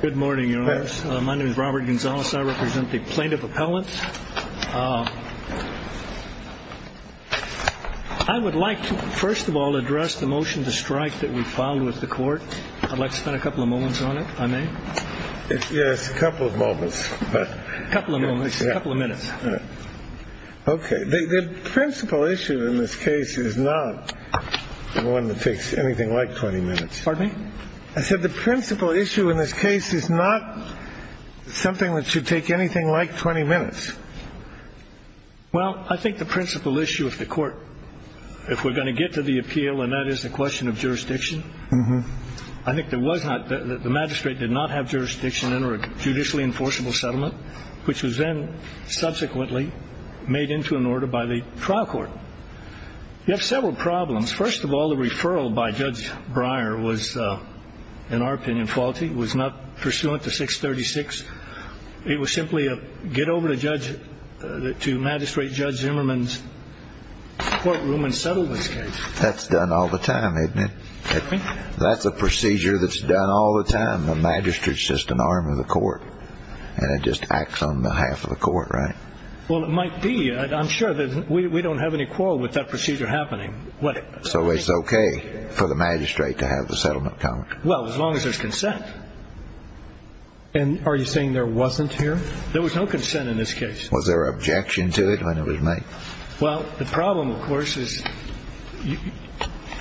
Good morning, your honors. My name is Robert Gonzalez. I represent the plaintiff appellant. I would like to, first of all, address the motion to strike that we filed with the court. I'd like to spend a couple of moments on it, if I may. Yes, a couple of moments. A couple of moments, a couple of minutes. OK. The principal issue in this case is not one that takes anything like 20 minutes. Pardon me? I said the principal issue in this case is not something that should take anything like 20 minutes. Well, I think the principal issue of the court, if we're going to get to the appeal, and that is the question of jurisdiction. I think there was not the magistrate did not have jurisdiction in a judicially enforceable settlement, which was then subsequently made into an order by the trial court. You have several problems. First of all, the referral by Judge Breyer was, in our opinion, faulty. It was not pursuant to 636. It was simply a get over to magistrate Judge Zimmerman's courtroom and settle this case. That's done all the time, isn't it? Pardon me? That's a procedure that's done all the time. The magistrate's just an arm of the court, and it just acts on behalf of the court, right? Well, it might be. I'm sure that we don't have any quarrel with that procedure happening. So it's OK for the magistrate to have the settlement count? Well, as long as there's consent. And are you saying there wasn't here? There was no consent in this case. Was there objection to it when it was made? Well, the problem, of course, is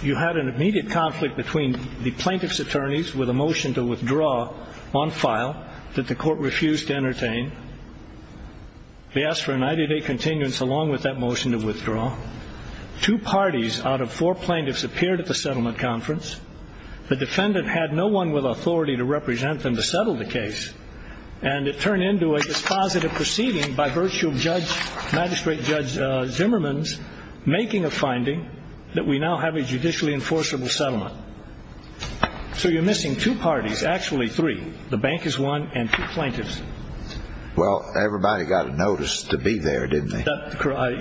you had an immediate conflict between the plaintiff's attorneys with a motion to withdraw on file that the court refused to entertain. They asked for a 90-day continuance along with that motion to withdraw. Two parties out of four plaintiffs appeared at the settlement conference. The defendant had no one with authority to represent them to settle the case, and it turned into a dispositive proceeding by virtue of Magistrate Judge Zimmerman's making a finding that we now have a judicially enforceable settlement. So you're missing two parties, actually three. The bank is one and two plaintiffs. Well, everybody got a notice to be there, didn't they?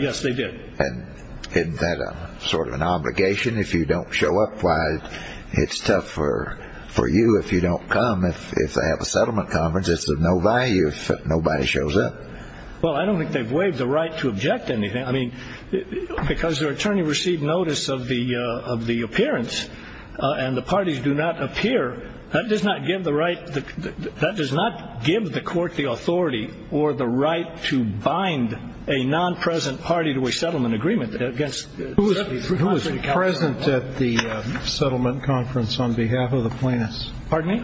Yes, they did. And isn't that sort of an obligation? If you don't show up, why, it's tough for you if you don't come. If they have a settlement conference, it's of no value if nobody shows up. Well, I don't think they've waived the right to object to anything. I mean, because their attorney received notice of the appearance and the parties do not appear, that does not give the court the authority or the right to bind a non-present party to a settlement agreement. Who was present at the settlement conference on behalf of the plaintiffs? Pardon me?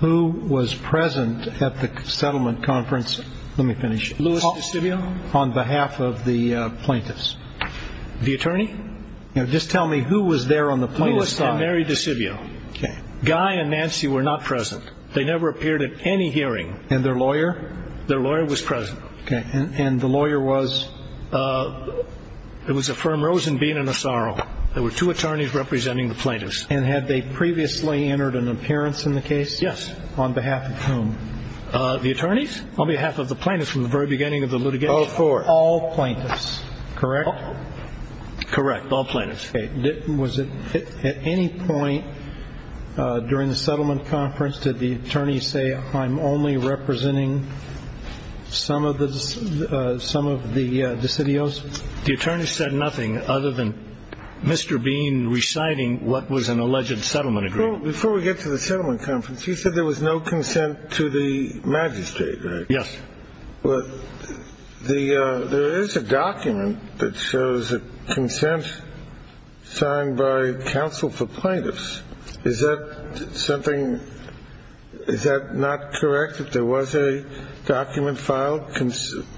Who was present at the settlement conference? Let me finish. Louis DeSimio. On behalf of the plaintiffs. The attorney? Just tell me who was there on the plaintiff's side. Louis and Mary DeSimio. Guy and Nancy were not present. They never appeared at any hearing. And their lawyer? Their lawyer was present. And the lawyer was? It was a firm, Rosenbein and Asaro. There were two attorneys representing the plaintiffs. And had they previously entered an appearance in the case? Yes. On behalf of whom? The attorneys? On behalf of the plaintiffs from the very beginning of the litigation. All four? All plaintiffs. Correct? Correct. All plaintiffs. Okay. Was it at any point during the settlement conference did the attorney say, I'm only representing some of the decidios? The attorney said nothing other than Mr. Bean reciting what was an alleged settlement agreement. Before we get to the settlement conference, you said there was no consent to the magistrate, right? Yes. Well, there is a document that shows a consent signed by counsel for plaintiffs. Is that something ñ is that not correct, that there was a document filed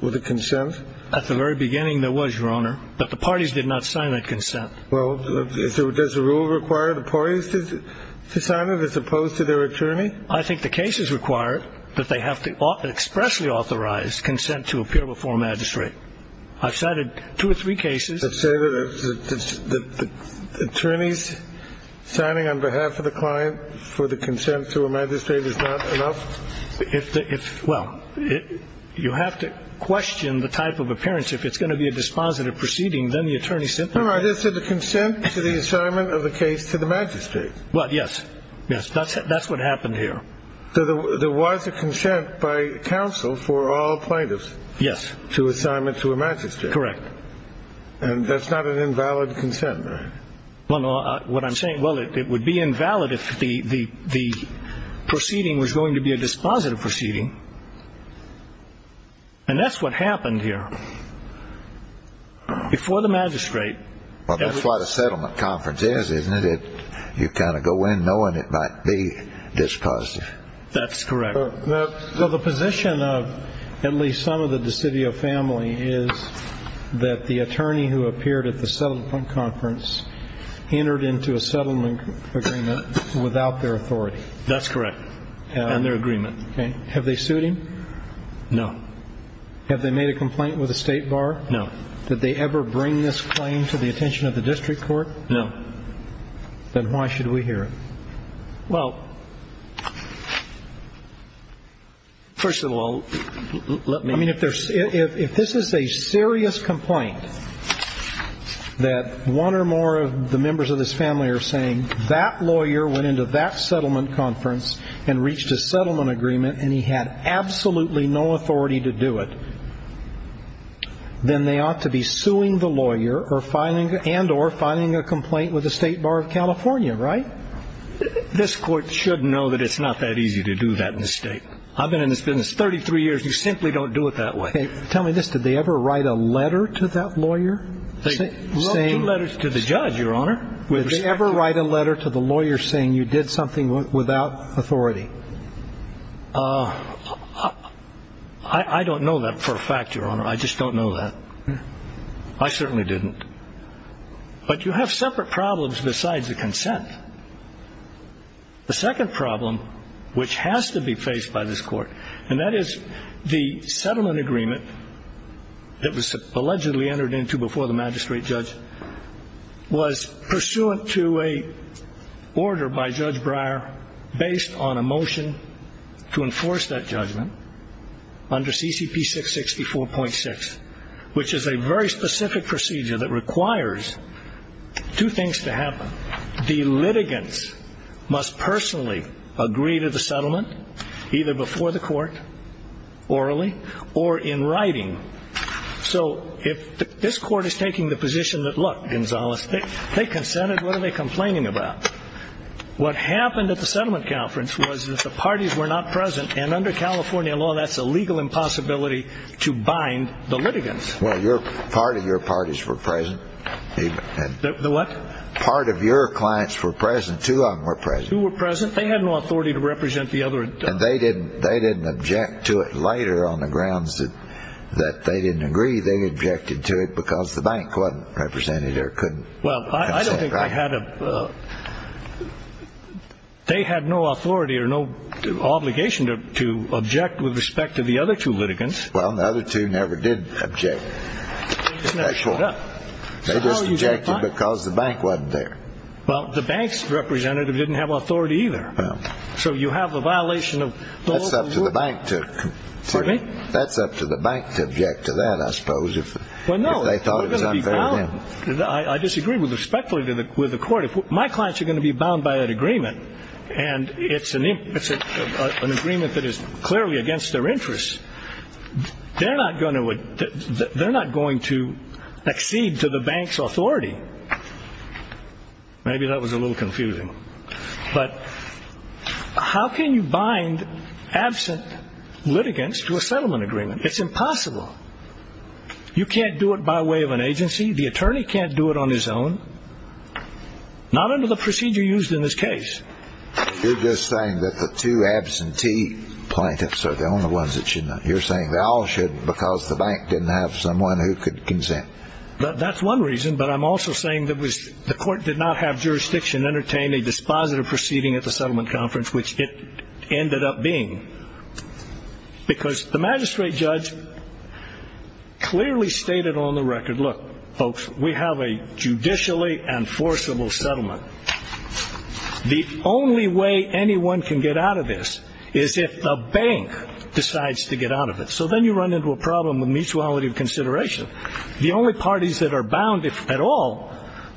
with a consent? At the very beginning, there was, Your Honor. But the parties did not sign that consent. Well, does the rule require the parties to sign it as opposed to their attorney? I think the case is required that they have to expressly authorize consent to appear before a magistrate. I've cited two or three cases. Does it say that the attorneys signing on behalf of the client for the consent to a magistrate is not enough? If the ñ well, you have to question the type of appearance. If it's going to be a dispositive proceeding, then the attorney simply ñ Your Honor, I just said the consent to the assignment of the case to the magistrate. Well, yes. Yes, that's what happened here. So there was a consent by counsel for all plaintiffs. Yes. To assignment to a magistrate. Correct. And that's not an invalid consent, right? Well, what I'm saying ñ well, it would be invalid if the proceeding was going to be a dispositive proceeding. And that's what happened here. Before the magistrate ñ Well, that's what a settlement conference is, isn't it? You kind of go in knowing it might be dispositive. That's correct. Well, the position of at least some of the DiCivio family is that the attorney who appeared at the settlement conference entered into a settlement agreement without their authority. That's correct. And their agreement. Okay. Have they sued him? No. Have they made a complaint with the State Bar? No. Did they ever bring this claim to the attention of the district court? No. Then why should we hear it? Well, first of all, let me ñ I mean, if this is a serious complaint that one or more of the members of this family are saying, if that lawyer went into that settlement conference and reached a settlement agreement and he had absolutely no authority to do it, then they ought to be suing the lawyer and or filing a complaint with the State Bar of California, right? This court should know that it's not that easy to do that mistake. I've been in this business 33 years. You simply don't do it that way. Tell me this. Did they ever write a letter to that lawyer saying ñ Well, two letters to the judge, Your Honor. Did they ever write a letter to the lawyer saying you did something without authority? I don't know that for a fact, Your Honor. I just don't know that. I certainly didn't. But you have separate problems besides the consent. The second problem, which has to be faced by this court, and that is the settlement agreement that was allegedly entered into before the magistrate judge, was pursuant to an order by Judge Breyer based on a motion to enforce that judgment under CCP 664.6, which is a very specific procedure that requires two things to happen. The litigants must personally agree to the settlement either before the court orally or in writing. So if this court is taking the position that, look, Gonzales, they consented, what are they complaining about? What happened at the settlement conference was that the parties were not present, and under California law that's a legal impossibility to bind the litigants. Well, part of your parties were present. The what? Part of your clients were present. Two of them were present. Two were present. They had no authority to represent the other. And they didn't object to it later on the grounds that they didn't agree. They objected to it because the bank wasn't represented or couldn't consent. Well, I don't think they had a – they had no authority or no obligation to object with respect to the other two litigants. Well, the other two never did object. They just never showed up. They just objected because the bank wasn't there. Well, the bank's representative didn't have authority either. So you have the violation of – That's up to the bank to – Excuse me? That's up to the bank to object to that, I suppose, if they thought it was unfair to them. I disagree respectfully with the court. If my clients are going to be bound by that agreement, and it's an agreement that is clearly against their interests, they're not going to accede to the bank's authority. Maybe that was a little confusing. But how can you bind absent litigants to a settlement agreement? It's impossible. You can't do it by way of an agency. The attorney can't do it on his own. Not under the procedure used in this case. You're just saying that the two absentee plaintiffs are the only ones that should not. You're saying they all should because the bank didn't have someone who could consent. That's one reason. But I'm also saying that the court did not have jurisdiction to entertain a dispositive proceeding at the settlement conference, which it ended up being. Because the magistrate judge clearly stated on the record, look, folks, we have a judicially enforceable settlement. The only way anyone can get out of this is if the bank decides to get out of it. So then you run into a problem of mutuality of consideration. The only parties that are bound at all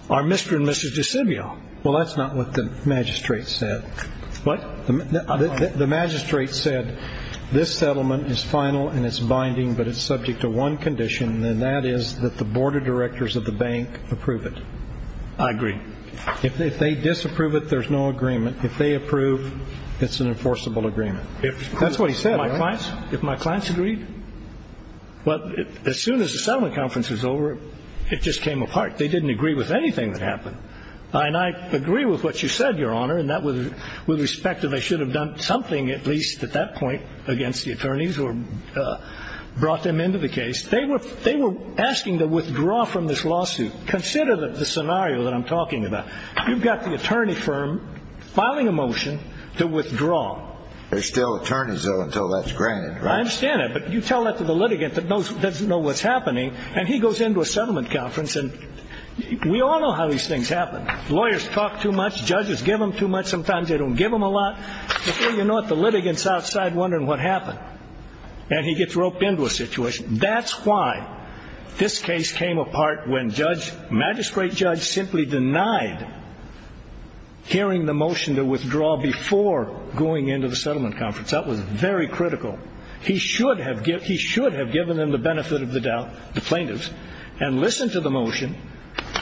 are Mr. and Mrs. DeCivio. Well, that's not what the magistrate said. What? The magistrate said this settlement is final and it's binding but it's subject to one condition, and that is that the board of directors of the bank approve it. I agree. If they disapprove it, there's no agreement. If they approve, it's an enforceable agreement. That's what he said, right? If my clients agreed. Well, as soon as the settlement conference was over, it just came apart. They didn't agree with anything that happened. And I agree with what you said, Your Honor, and that was with respect to they should have done something at least at that point against the attorneys or brought them into the case. They were asking to withdraw from this lawsuit. Consider the scenario that I'm talking about. You've got the attorney firm filing a motion to withdraw. There's still attorneys, though, until that's granted, right? I understand that, but you tell that to the litigant that doesn't know what's happening, and he goes into a settlement conference, and we all know how these things happen. Lawyers talk too much. Judges give them too much. Sometimes they don't give them a lot. Before you know it, the litigant's outside wondering what happened, and he gets roped into a situation. That's why this case came apart when magistrate judge simply denied hearing the motion to withdraw before going into the settlement conference. That was very critical. He should have given them the benefit of the doubt, the plaintiffs, and listened to the motion,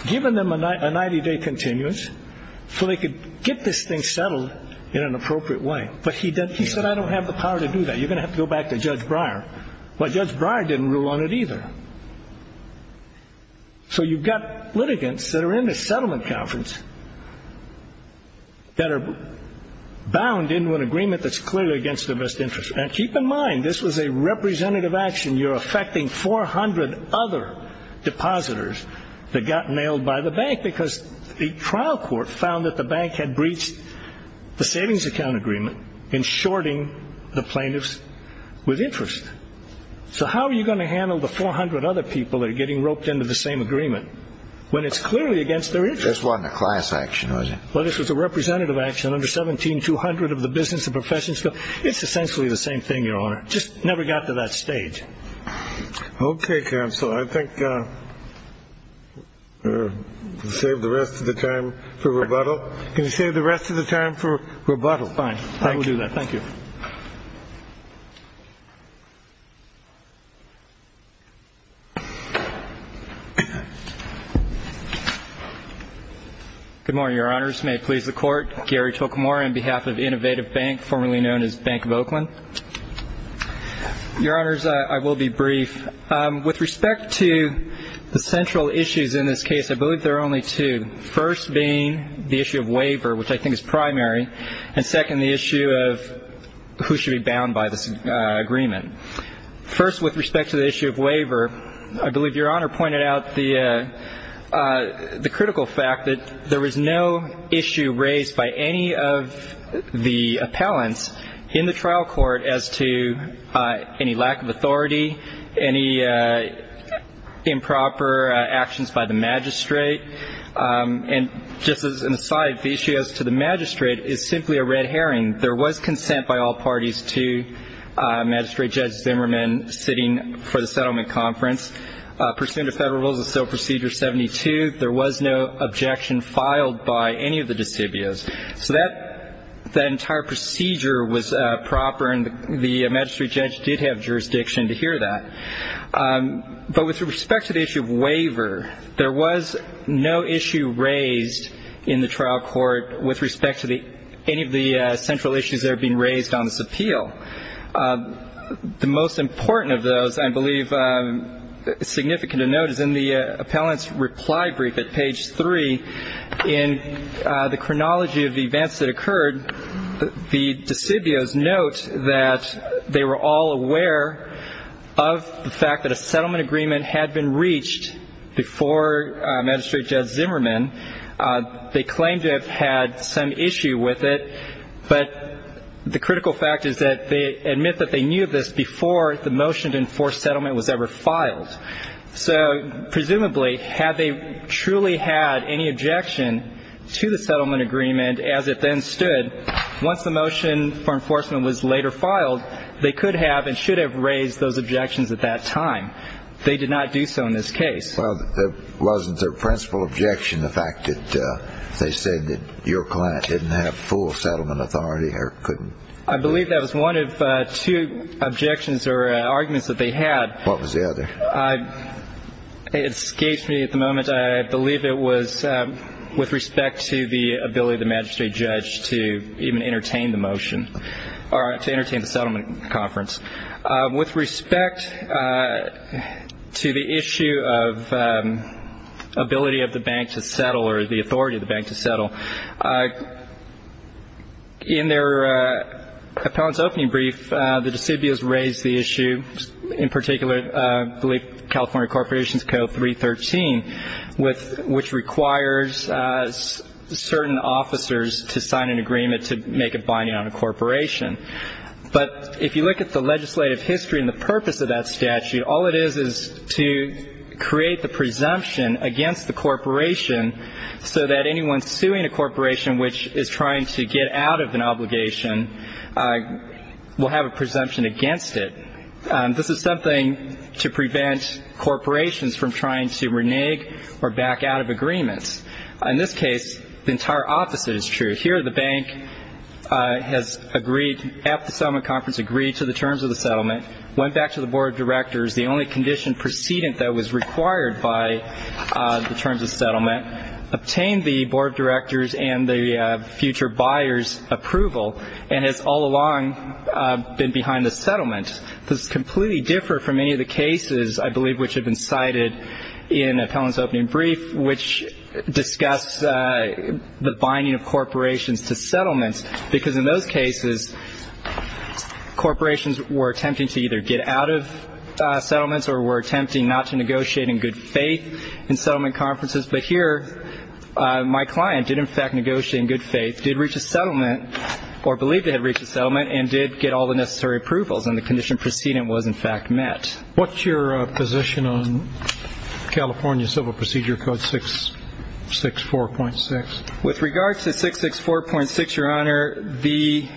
given them a 90-day continuance so they could get this thing settled in an appropriate way. But he said, I don't have the power to do that. You're going to have to go back to Judge Breyer. Well, Judge Breyer didn't rule on it either. So you've got litigants that are in the settlement conference that are bound into an agreement that's clearly against their best interest. And keep in mind, this was a representative action. You're affecting 400 other depositors that got nailed by the bank because the trial court found that the bank had breached the savings account agreement in shorting the plaintiffs with interest. So how are you going to handle the 400 other people that are getting roped into the same agreement when it's clearly against their interest? This wasn't a class action, was it? Well, this was a representative action under 17-200 of the business and professions bill. It's essentially the same thing, Your Honor. Just never got to that stage. Okay, counsel. I think we'll save the rest of the time for rebuttal. Can you save the rest of the time for rebuttal? Fine. I will do that. Thank you. Good morning, Your Honors. May it please the Court. Gary Tocamora on behalf of Innovative Bank, formerly known as Bank of Oakland. Your Honors, I will be brief. With respect to the central issues in this case, I believe there are only two, first being the issue of waiver, which I think is primary, and second, the issue of who should be bound by this agreement. First, with respect to the issue of waiver, I believe Your Honor pointed out the critical fact that there was no issue raised by any of the appellants in the trial court as to any lack of authority, any improper actions by the magistrate. And just as an aside, the issue as to the magistrate is simply a red herring. There was consent by all parties to Magistrate Judge Zimmerman sitting for the settlement conference. Pursuant to Federal Rules of Civil Procedure 72, there was no objection filed by any of the decibios. So that entire procedure was proper, and the magistrate judge did have jurisdiction to hear that. But with respect to the issue of waiver, there was no issue raised in the trial court with respect to any of the central issues that are being raised on this appeal. The most important of those, I believe, significant to note, is in the appellant's reply brief at page 3, in the chronology of the events that occurred, the decibios note that they were all aware of the fact that a settlement agreement had been reached before Magistrate Judge Zimmerman. They claimed to have had some issue with it, but the critical fact is that they admit that they knew of this before the motion to enforce settlement was ever filed. So presumably, had they truly had any objection to the settlement agreement as it then stood, once the motion for enforcement was later filed, they could have and should have raised those objections at that time. They did not do so in this case. Well, wasn't their principal objection the fact that they said that your client didn't have full settlement authority or couldn't? I believe that was one of two objections or arguments that they had. What was the other? It escapes me at the moment. I believe it was with respect to the ability of the Magistrate Judge to even entertain the motion or to entertain the settlement conference. With respect to the issue of ability of the bank to settle or the authority of the bank to settle, in their appellant's opening brief, the decibios raised the issue, in particular, California Corporations Code 313, which requires certain officers to sign an agreement to make a binding on a corporation. But if you look at the legislative history and the purpose of that statute, all it is is to create the presumption against the corporation so that anyone suing a corporation which is trying to get out of an obligation will have a presumption against it. This is something to prevent corporations from trying to renege or back out of agreements. In this case, the entire opposite is true. Here the bank has agreed at the settlement conference, agreed to the terms of the settlement, went back to the Board of Directors, the only condition precedent that was required by the terms of settlement, obtained the Board of Directors and the future buyer's approval, and has all along been behind the settlement. This is completely different from any of the cases I believe which have been cited in the appellant's opening brief, which discuss the binding of corporations to settlements, because in those cases corporations were attempting to either get out of settlements or were attempting not to negotiate in good faith in settlement conferences. But here my client did, in fact, negotiate in good faith, did reach a settlement or believed to have reached a settlement and did get all the necessary approvals, and the condition precedent was, in fact, met. What's your position on California Civil Procedure Code 664.6? With regard to 664.6, Your Honor, the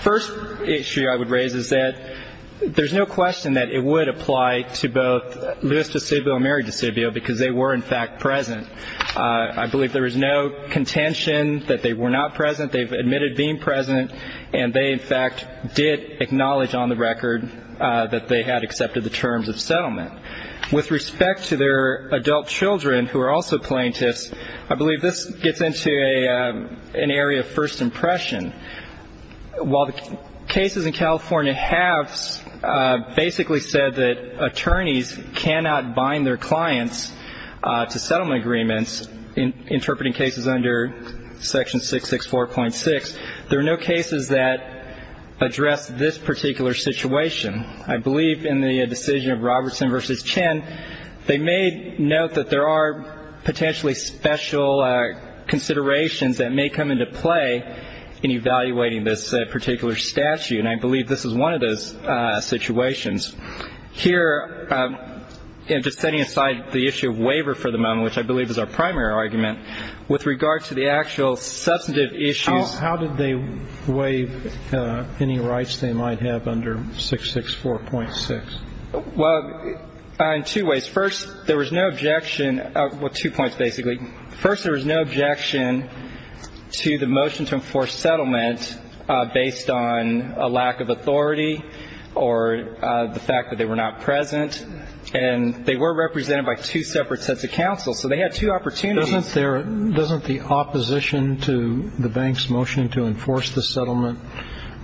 first issue I would raise is that there's no question that it would apply to both Louis DeSibio and Mary DeSibio because they were, in fact, present. I believe there is no contention that they were not present. They've admitted being present, and they, in fact, did acknowledge on the record that they had accepted the terms of settlement. With respect to their adult children, who are also plaintiffs, I believe this gets into an area of first impression. While the cases in California have basically said that attorneys cannot bind their clients to settlement agreements, interpreting cases under Section 664.6, there are no cases that address this particular situation. I believe in the decision of Robertson v. Chen, they made note that there are potentially special considerations that may come into play in evaluating this particular statute, and I believe this is one of those situations. Here, and just setting aside the issue of waiver for the moment, which I believe is our primary argument, with regard to the actual substantive issues. How did they waive any rights they might have under 664.6? Well, in two ways. First, there was no objection. Well, two points, basically. First, there was no objection to the motion to enforce settlement based on a lack of authority or the fact that they were not present. And they were represented by two separate sets of counsel, so they had two opportunities. Doesn't the opposition to the bank's motion to enforce the settlement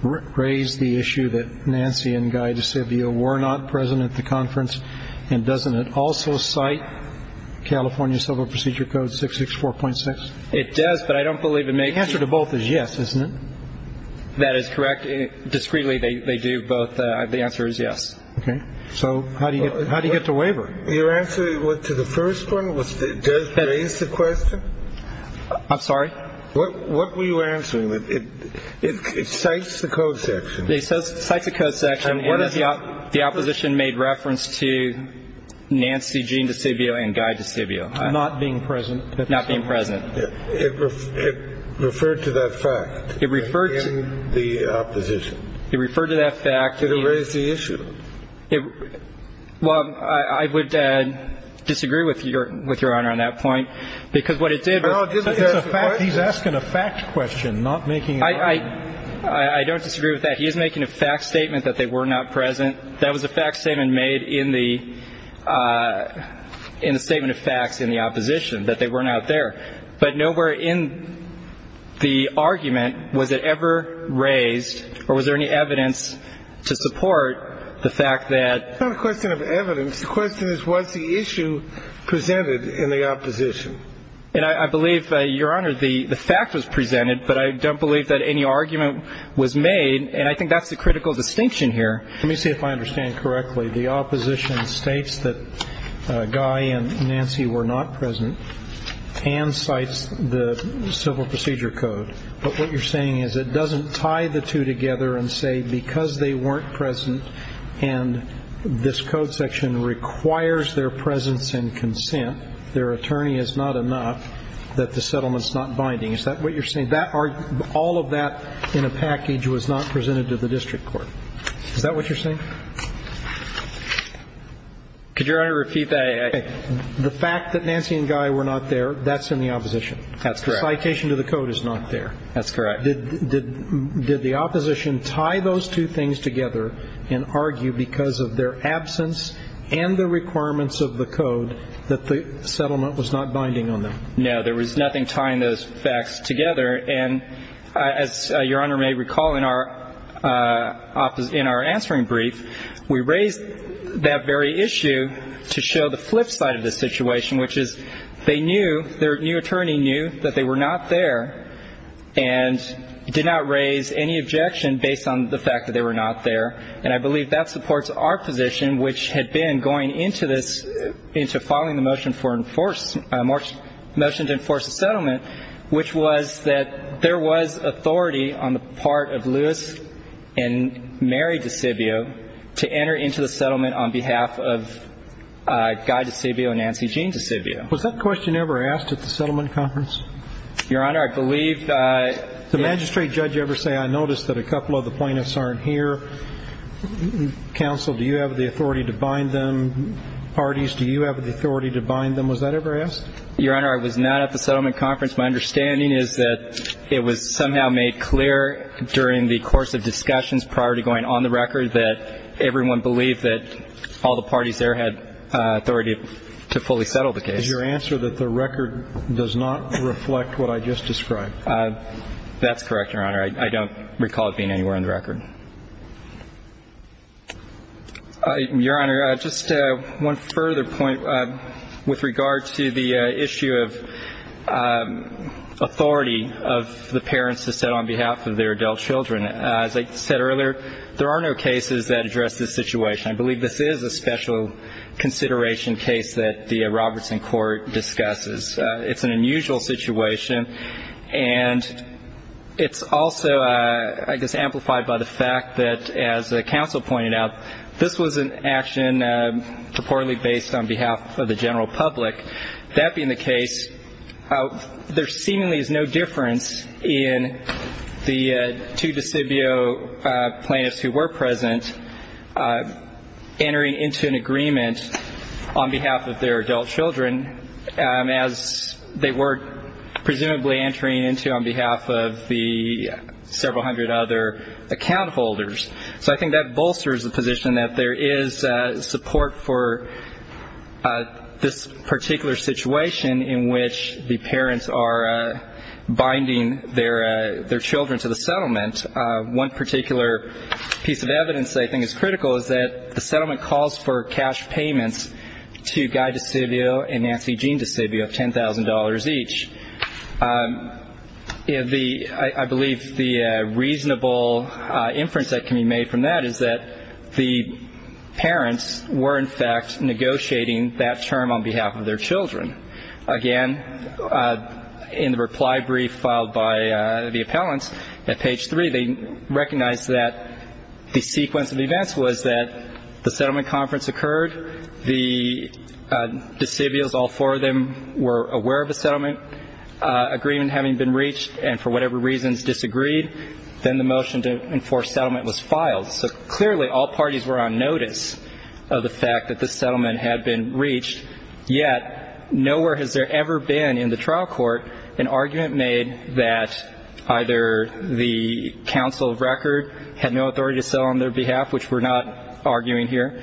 raise the issue that Nancy and Guy DeSivio were not present at the conference, and doesn't it also cite California Civil Procedure Code 664.6? It does, but I don't believe it makes it. The answer to both is yes, isn't it? That is correct. Discreetly, they do both. The answer is yes. Okay. So how do you get the waiver? Your answer to the first one does raise the question? I'm sorry? What were you answering? It cites the code section. It cites the code section. And the opposition made reference to Nancy Jean DeSivio and Guy DeSivio. Not being present. Not being present. It referred to that fact. In the opposition. It referred to that fact. Did it raise the issue? Well, I would disagree with Your Honor on that point, because what it did was. He's asking a fact question, not making an argument. I don't disagree with that. He is making a fact statement that they were not present. That was a fact statement made in the statement of facts in the opposition, that they were not there. But nowhere in the argument was it ever raised or was there any evidence to support the fact that. It's not a question of evidence. The question is, was the issue presented in the opposition? And I believe, Your Honor, the fact was presented. But I don't believe that any argument was made. And I think that's the critical distinction here. Let me see if I understand correctly. The opposition states that Guy and Nancy were not present and cites the civil procedure code. But what you're saying is it doesn't tie the two together and say because they weren't present. And this code section requires their presence and consent. Their attorney is not enough that the settlement is not binding. Is that what you're saying? All of that in a package was not presented to the district court. Is that what you're saying? Could Your Honor repeat that? The fact that Nancy and Guy were not there, that's in the opposition. That's correct. Citation to the code is not there. That's correct. Did the opposition tie those two things together and argue because of their absence and the requirements of the code that the settlement was not binding on them? No. There was nothing tying those facts together. And as Your Honor may recall in our answering brief, we raised that very issue to show the flip side of the situation, which is they knew, their new attorney knew that they were not there and did not raise any objection based on the fact that they were not there. And I believe that supports our position, which had been going into this, into filing the motion to enforce the settlement, which was that there was authority on the part of Louis and Mary DeSibio to enter into the settlement on behalf of Guy DeSibio and Nancy Jean DeSibio. Was that question ever asked at the settlement conference? Your Honor, I believe that yes. Did the magistrate judge ever say, I noticed that a couple of the plaintiffs aren't here? Counsel, do you have the authority to bind them? Parties, do you have the authority to bind them? Was that ever asked? Your Honor, I was not at the settlement conference. My understanding is that it was somehow made clear during the course of discussions prior to going on the record that everyone believed that all the parties there had authority to fully settle the case. Is your answer that the record does not reflect what I just described? That's correct, Your Honor. I don't recall it being anywhere on the record. Your Honor, just one further point with regard to the issue of authority of the parents to set on behalf of their adult children. As I said earlier, there are no cases that address this situation. I believe this is a special consideration case that the Robertson court discusses. It's an unusual situation. And it's also, I guess, amplified by the fact that, as the counsel pointed out, this was an action purportedly based on behalf of the general public. That being the case, there seemingly is no difference in the two decibio plaintiffs who were present entering into an agreement on behalf of their adult children as they were presumably entering into on behalf of the several hundred other account holders. So I think that bolsters the position that there is support for this particular situation in which the parents are binding their children to the settlement. One particular piece of evidence I think is critical is that the settlement calls for cash payments to Guy DeCivio and Nancy Jean DeCivio of $10,000 each. I believe the reasonable inference that can be made from that is that the parents were, in fact, negotiating that term on behalf of their children. Again, in the reply brief filed by the appellants at page 3, they recognized that the sequence of events was that the settlement conference occurred, the decibios, all four of them, were aware of a settlement agreement having been reached and for whatever reasons disagreed. Then the motion to enforce settlement was filed. So clearly all parties were on notice of the fact that the settlement had been reached, yet nowhere has there ever been in the trial court an argument made that either the counsel of record had no authority to sell on their behalf, which we're not arguing here,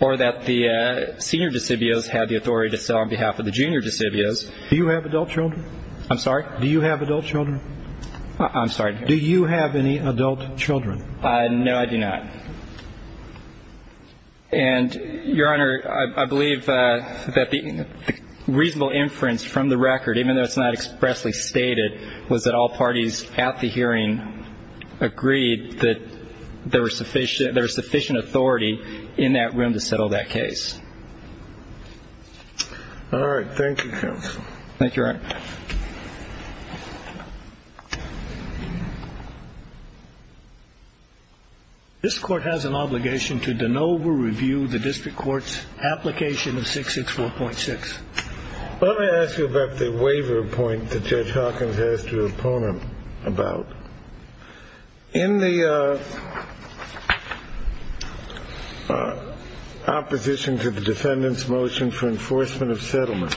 or that the senior decibios had the authority to sell on behalf of the junior decibios. Do you have adult children? I'm sorry? Do you have adult children? I'm sorry? Do you have any adult children? No, I do not. And, Your Honor, I believe that the reasonable inference from the record, even though it's not expressly stated, was that all parties at the hearing agreed that there was sufficient authority in that room to settle that case. All right. Thank you, Your Honor. This Court has an obligation to de novo review the district court's application of 664.6. Let me ask you about the waiver point that Judge Hawkins has to opponent about. In the opposition to the defendant's motion for enforcement of settlement,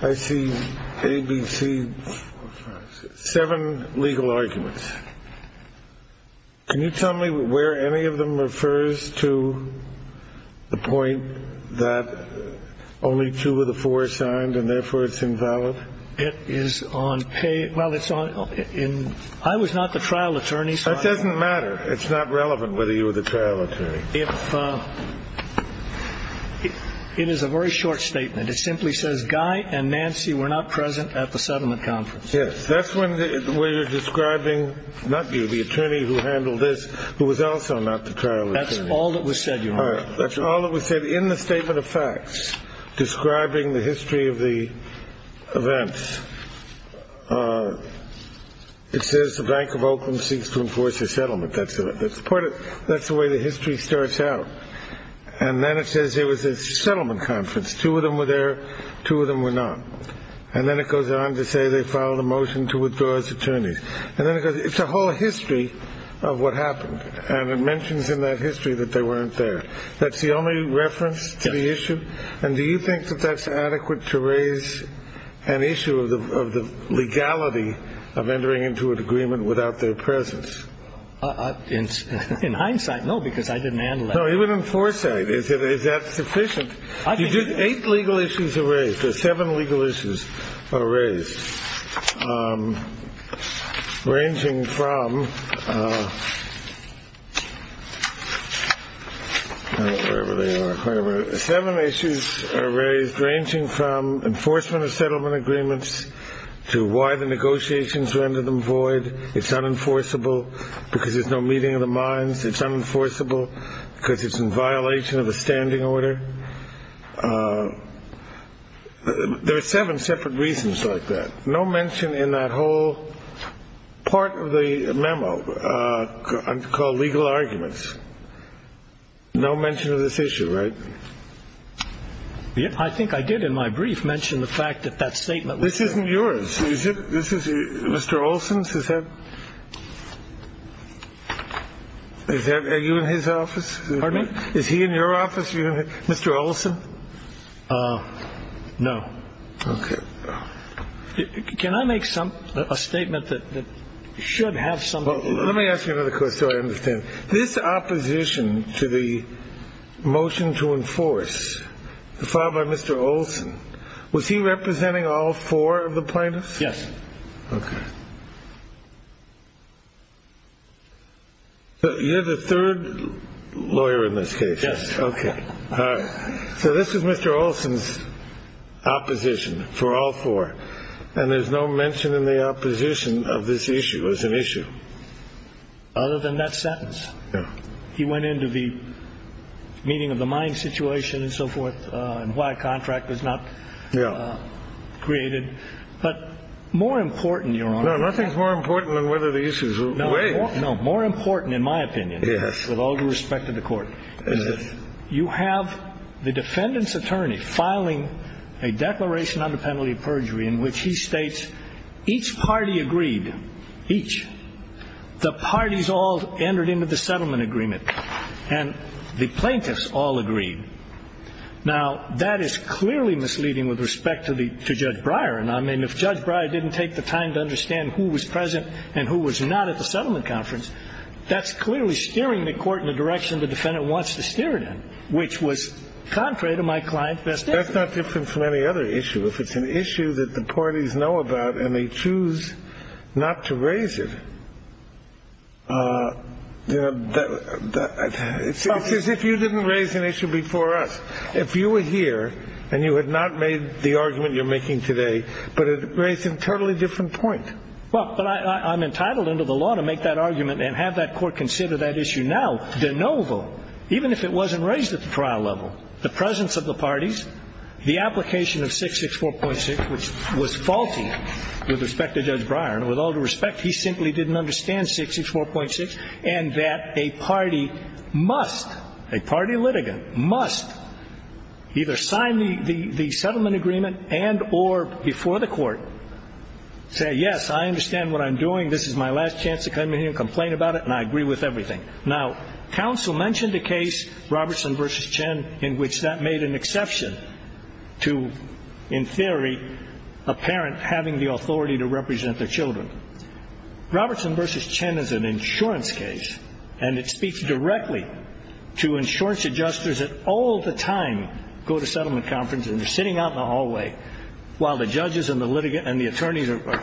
I see A, B, C, seven legal arguments. Can you tell me where any of them refers to the point that only two of the four are signed and, therefore, it's invalid? It is on pay. I was not the trial attorney. That doesn't matter. It's not relevant whether you were the trial attorney. It is a very short statement. It simply says Guy and Nancy were not present at the settlement conference. Yes. That's where you're describing not you, the attorney who handled this, who was also not the trial attorney. That's all that was said, Your Honor. All right. That's all that was said in the statement of facts describing the history of the events. It says the Bank of Oakland seeks to enforce a settlement. That's the way the history starts out. And then it says there was a settlement conference. Two of them were there. Two of them were not. And then it goes on to say they filed a motion to withdraw as attorneys. And then it goes, it's a whole history of what happened, and it mentions in that history that they weren't there. That's the only reference to the issue? Yes. And do you think that that's adequate to raise an issue of the legality of entering into an agreement without their presence? In hindsight, no, because I didn't handle that. No, even in foresight, is that sufficient? Eight legal issues are raised. Seven legal issues are raised, ranging from enforcement of settlement agreements to why the negotiations rendered them void. It's unenforceable because there's no meeting of the minds. It's unenforceable because it's in violation of the standing order. There are seven separate reasons like that. No mention in that whole part of the memo called legal arguments. No mention of this issue, right? I think I did in my brief mention the fact that that statement. This isn't yours. This is Mr. Olson's. Is that. Are you in his office? Pardon me? Is he in your office? Mr. Olson. No. OK. Can I make some a statement that should have some. Let me ask you another question. This opposition to the motion to enforce the father, Mr. Olson. Was he representing all four of the plaintiffs? Yes. OK. You're the third lawyer in this case. Yes. OK. So this is Mr. Olson's opposition for all four. And there's no mention in the opposition of this issue as an issue. Other than that sentence. Yeah. He went into the meeting of the mind situation and so forth. And why a contract was not created. But more important, Your Honor. Nothing's more important than whether the issues. No, no. More important, in my opinion. Yes. With all due respect to the court. You have the defendant's attorney filing a declaration on the penalty of perjury in which he states each party agreed. Each. The parties all entered into the settlement agreement. And the plaintiffs all agreed. Now, that is clearly misleading with respect to Judge Breyer. And, I mean, if Judge Breyer didn't take the time to understand who was present and who was not at the settlement conference, that's clearly steering the court in the direction the defendant wants to steer it in. Which was contrary to my client's best interest. That's not different from any other issue. If it's an issue that the parties know about and they choose not to raise it, it's as if you didn't raise an issue before us. If you were here and you had not made the argument you're making today, but it raised a totally different point. Well, I'm entitled under the law to make that argument and have that court consider that issue now. Even if it wasn't raised at the trial level, the presence of the parties, the application of 664.6, which was faulty with respect to Judge Breyer, and with all due respect, he simply didn't understand 664.6, and that a party must, a party litigant must either sign the settlement agreement and or before the court say, yes, I understand what I'm doing. This is my last chance to come in here and complain about it, and I agree with everything. Now, counsel mentioned a case, Robertson v. Chen, in which that made an exception to, in theory, a parent having the authority to represent their children. Robertson v. Chen is an insurance case, and it speaks directly to insurance adjusters that all the time go to settlement conferences and they're sitting out in the hallway while the judges and the litigant and the attorneys are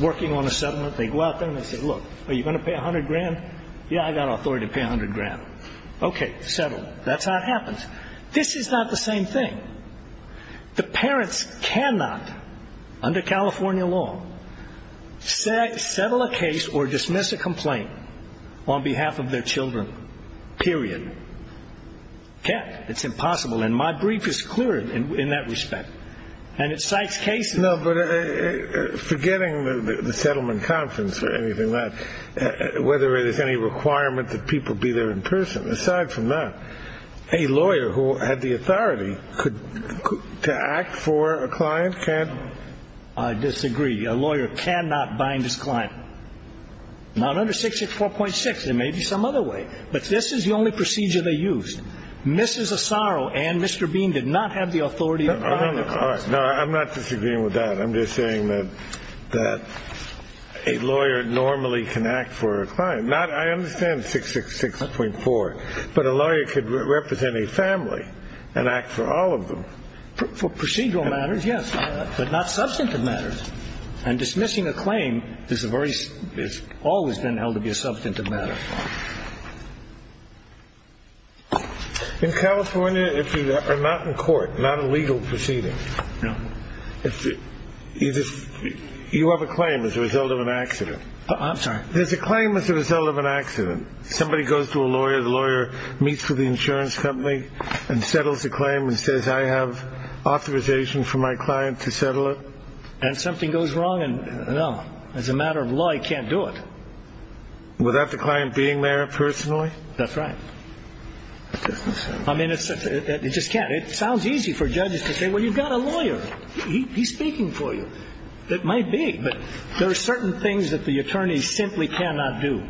working on a settlement. They go out there and they say, look, are you going to pay $100,000? Yeah, I've got authority to pay $100,000. Okay, settle. That's how it happens. This is not the same thing. The parents cannot, under California law, settle a case or dismiss a complaint on behalf of their children, period. Can't. It's impossible, and my brief is clear in that respect, and it cites cases. No, but forgetting the settlement conference or anything like that, whether there's any requirement that people be there in person, aside from that, a lawyer who had the authority to act for a client can't? I disagree. A lawyer cannot bind his client. Now, under 664.6, there may be some other way, but this is the only procedure they used. Mrs. Asaro and Mr. Bean did not have the authority to bind their clients. No, I'm not disagreeing with that. I'm just saying that a lawyer normally can act for a client. I understand 666.4, but a lawyer could represent a family and act for all of them. For procedural matters, yes, but not substantive matters. And dismissing a claim has always been held to be a substantive matter. In California, if you are not in court, not a legal proceeding, you have a claim as a result of an accident. I'm sorry. There's a claim as a result of an accident. Somebody goes to a lawyer. The lawyer meets with the insurance company and settles the claim and says, I have authorization for my client to settle it. And something goes wrong, and, no, as a matter of law, he can't do it. Without the client being there personally? That's right. I mean, it just can't. It sounds easy for judges to say, well, you've got a lawyer. He's speaking for you. It might be, but there are certain things that the attorney simply cannot do,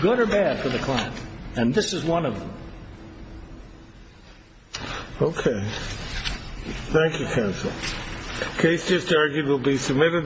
good or bad, for the client. And this is one of them. Okay. Thank you, counsel. The case just argued will be submitted.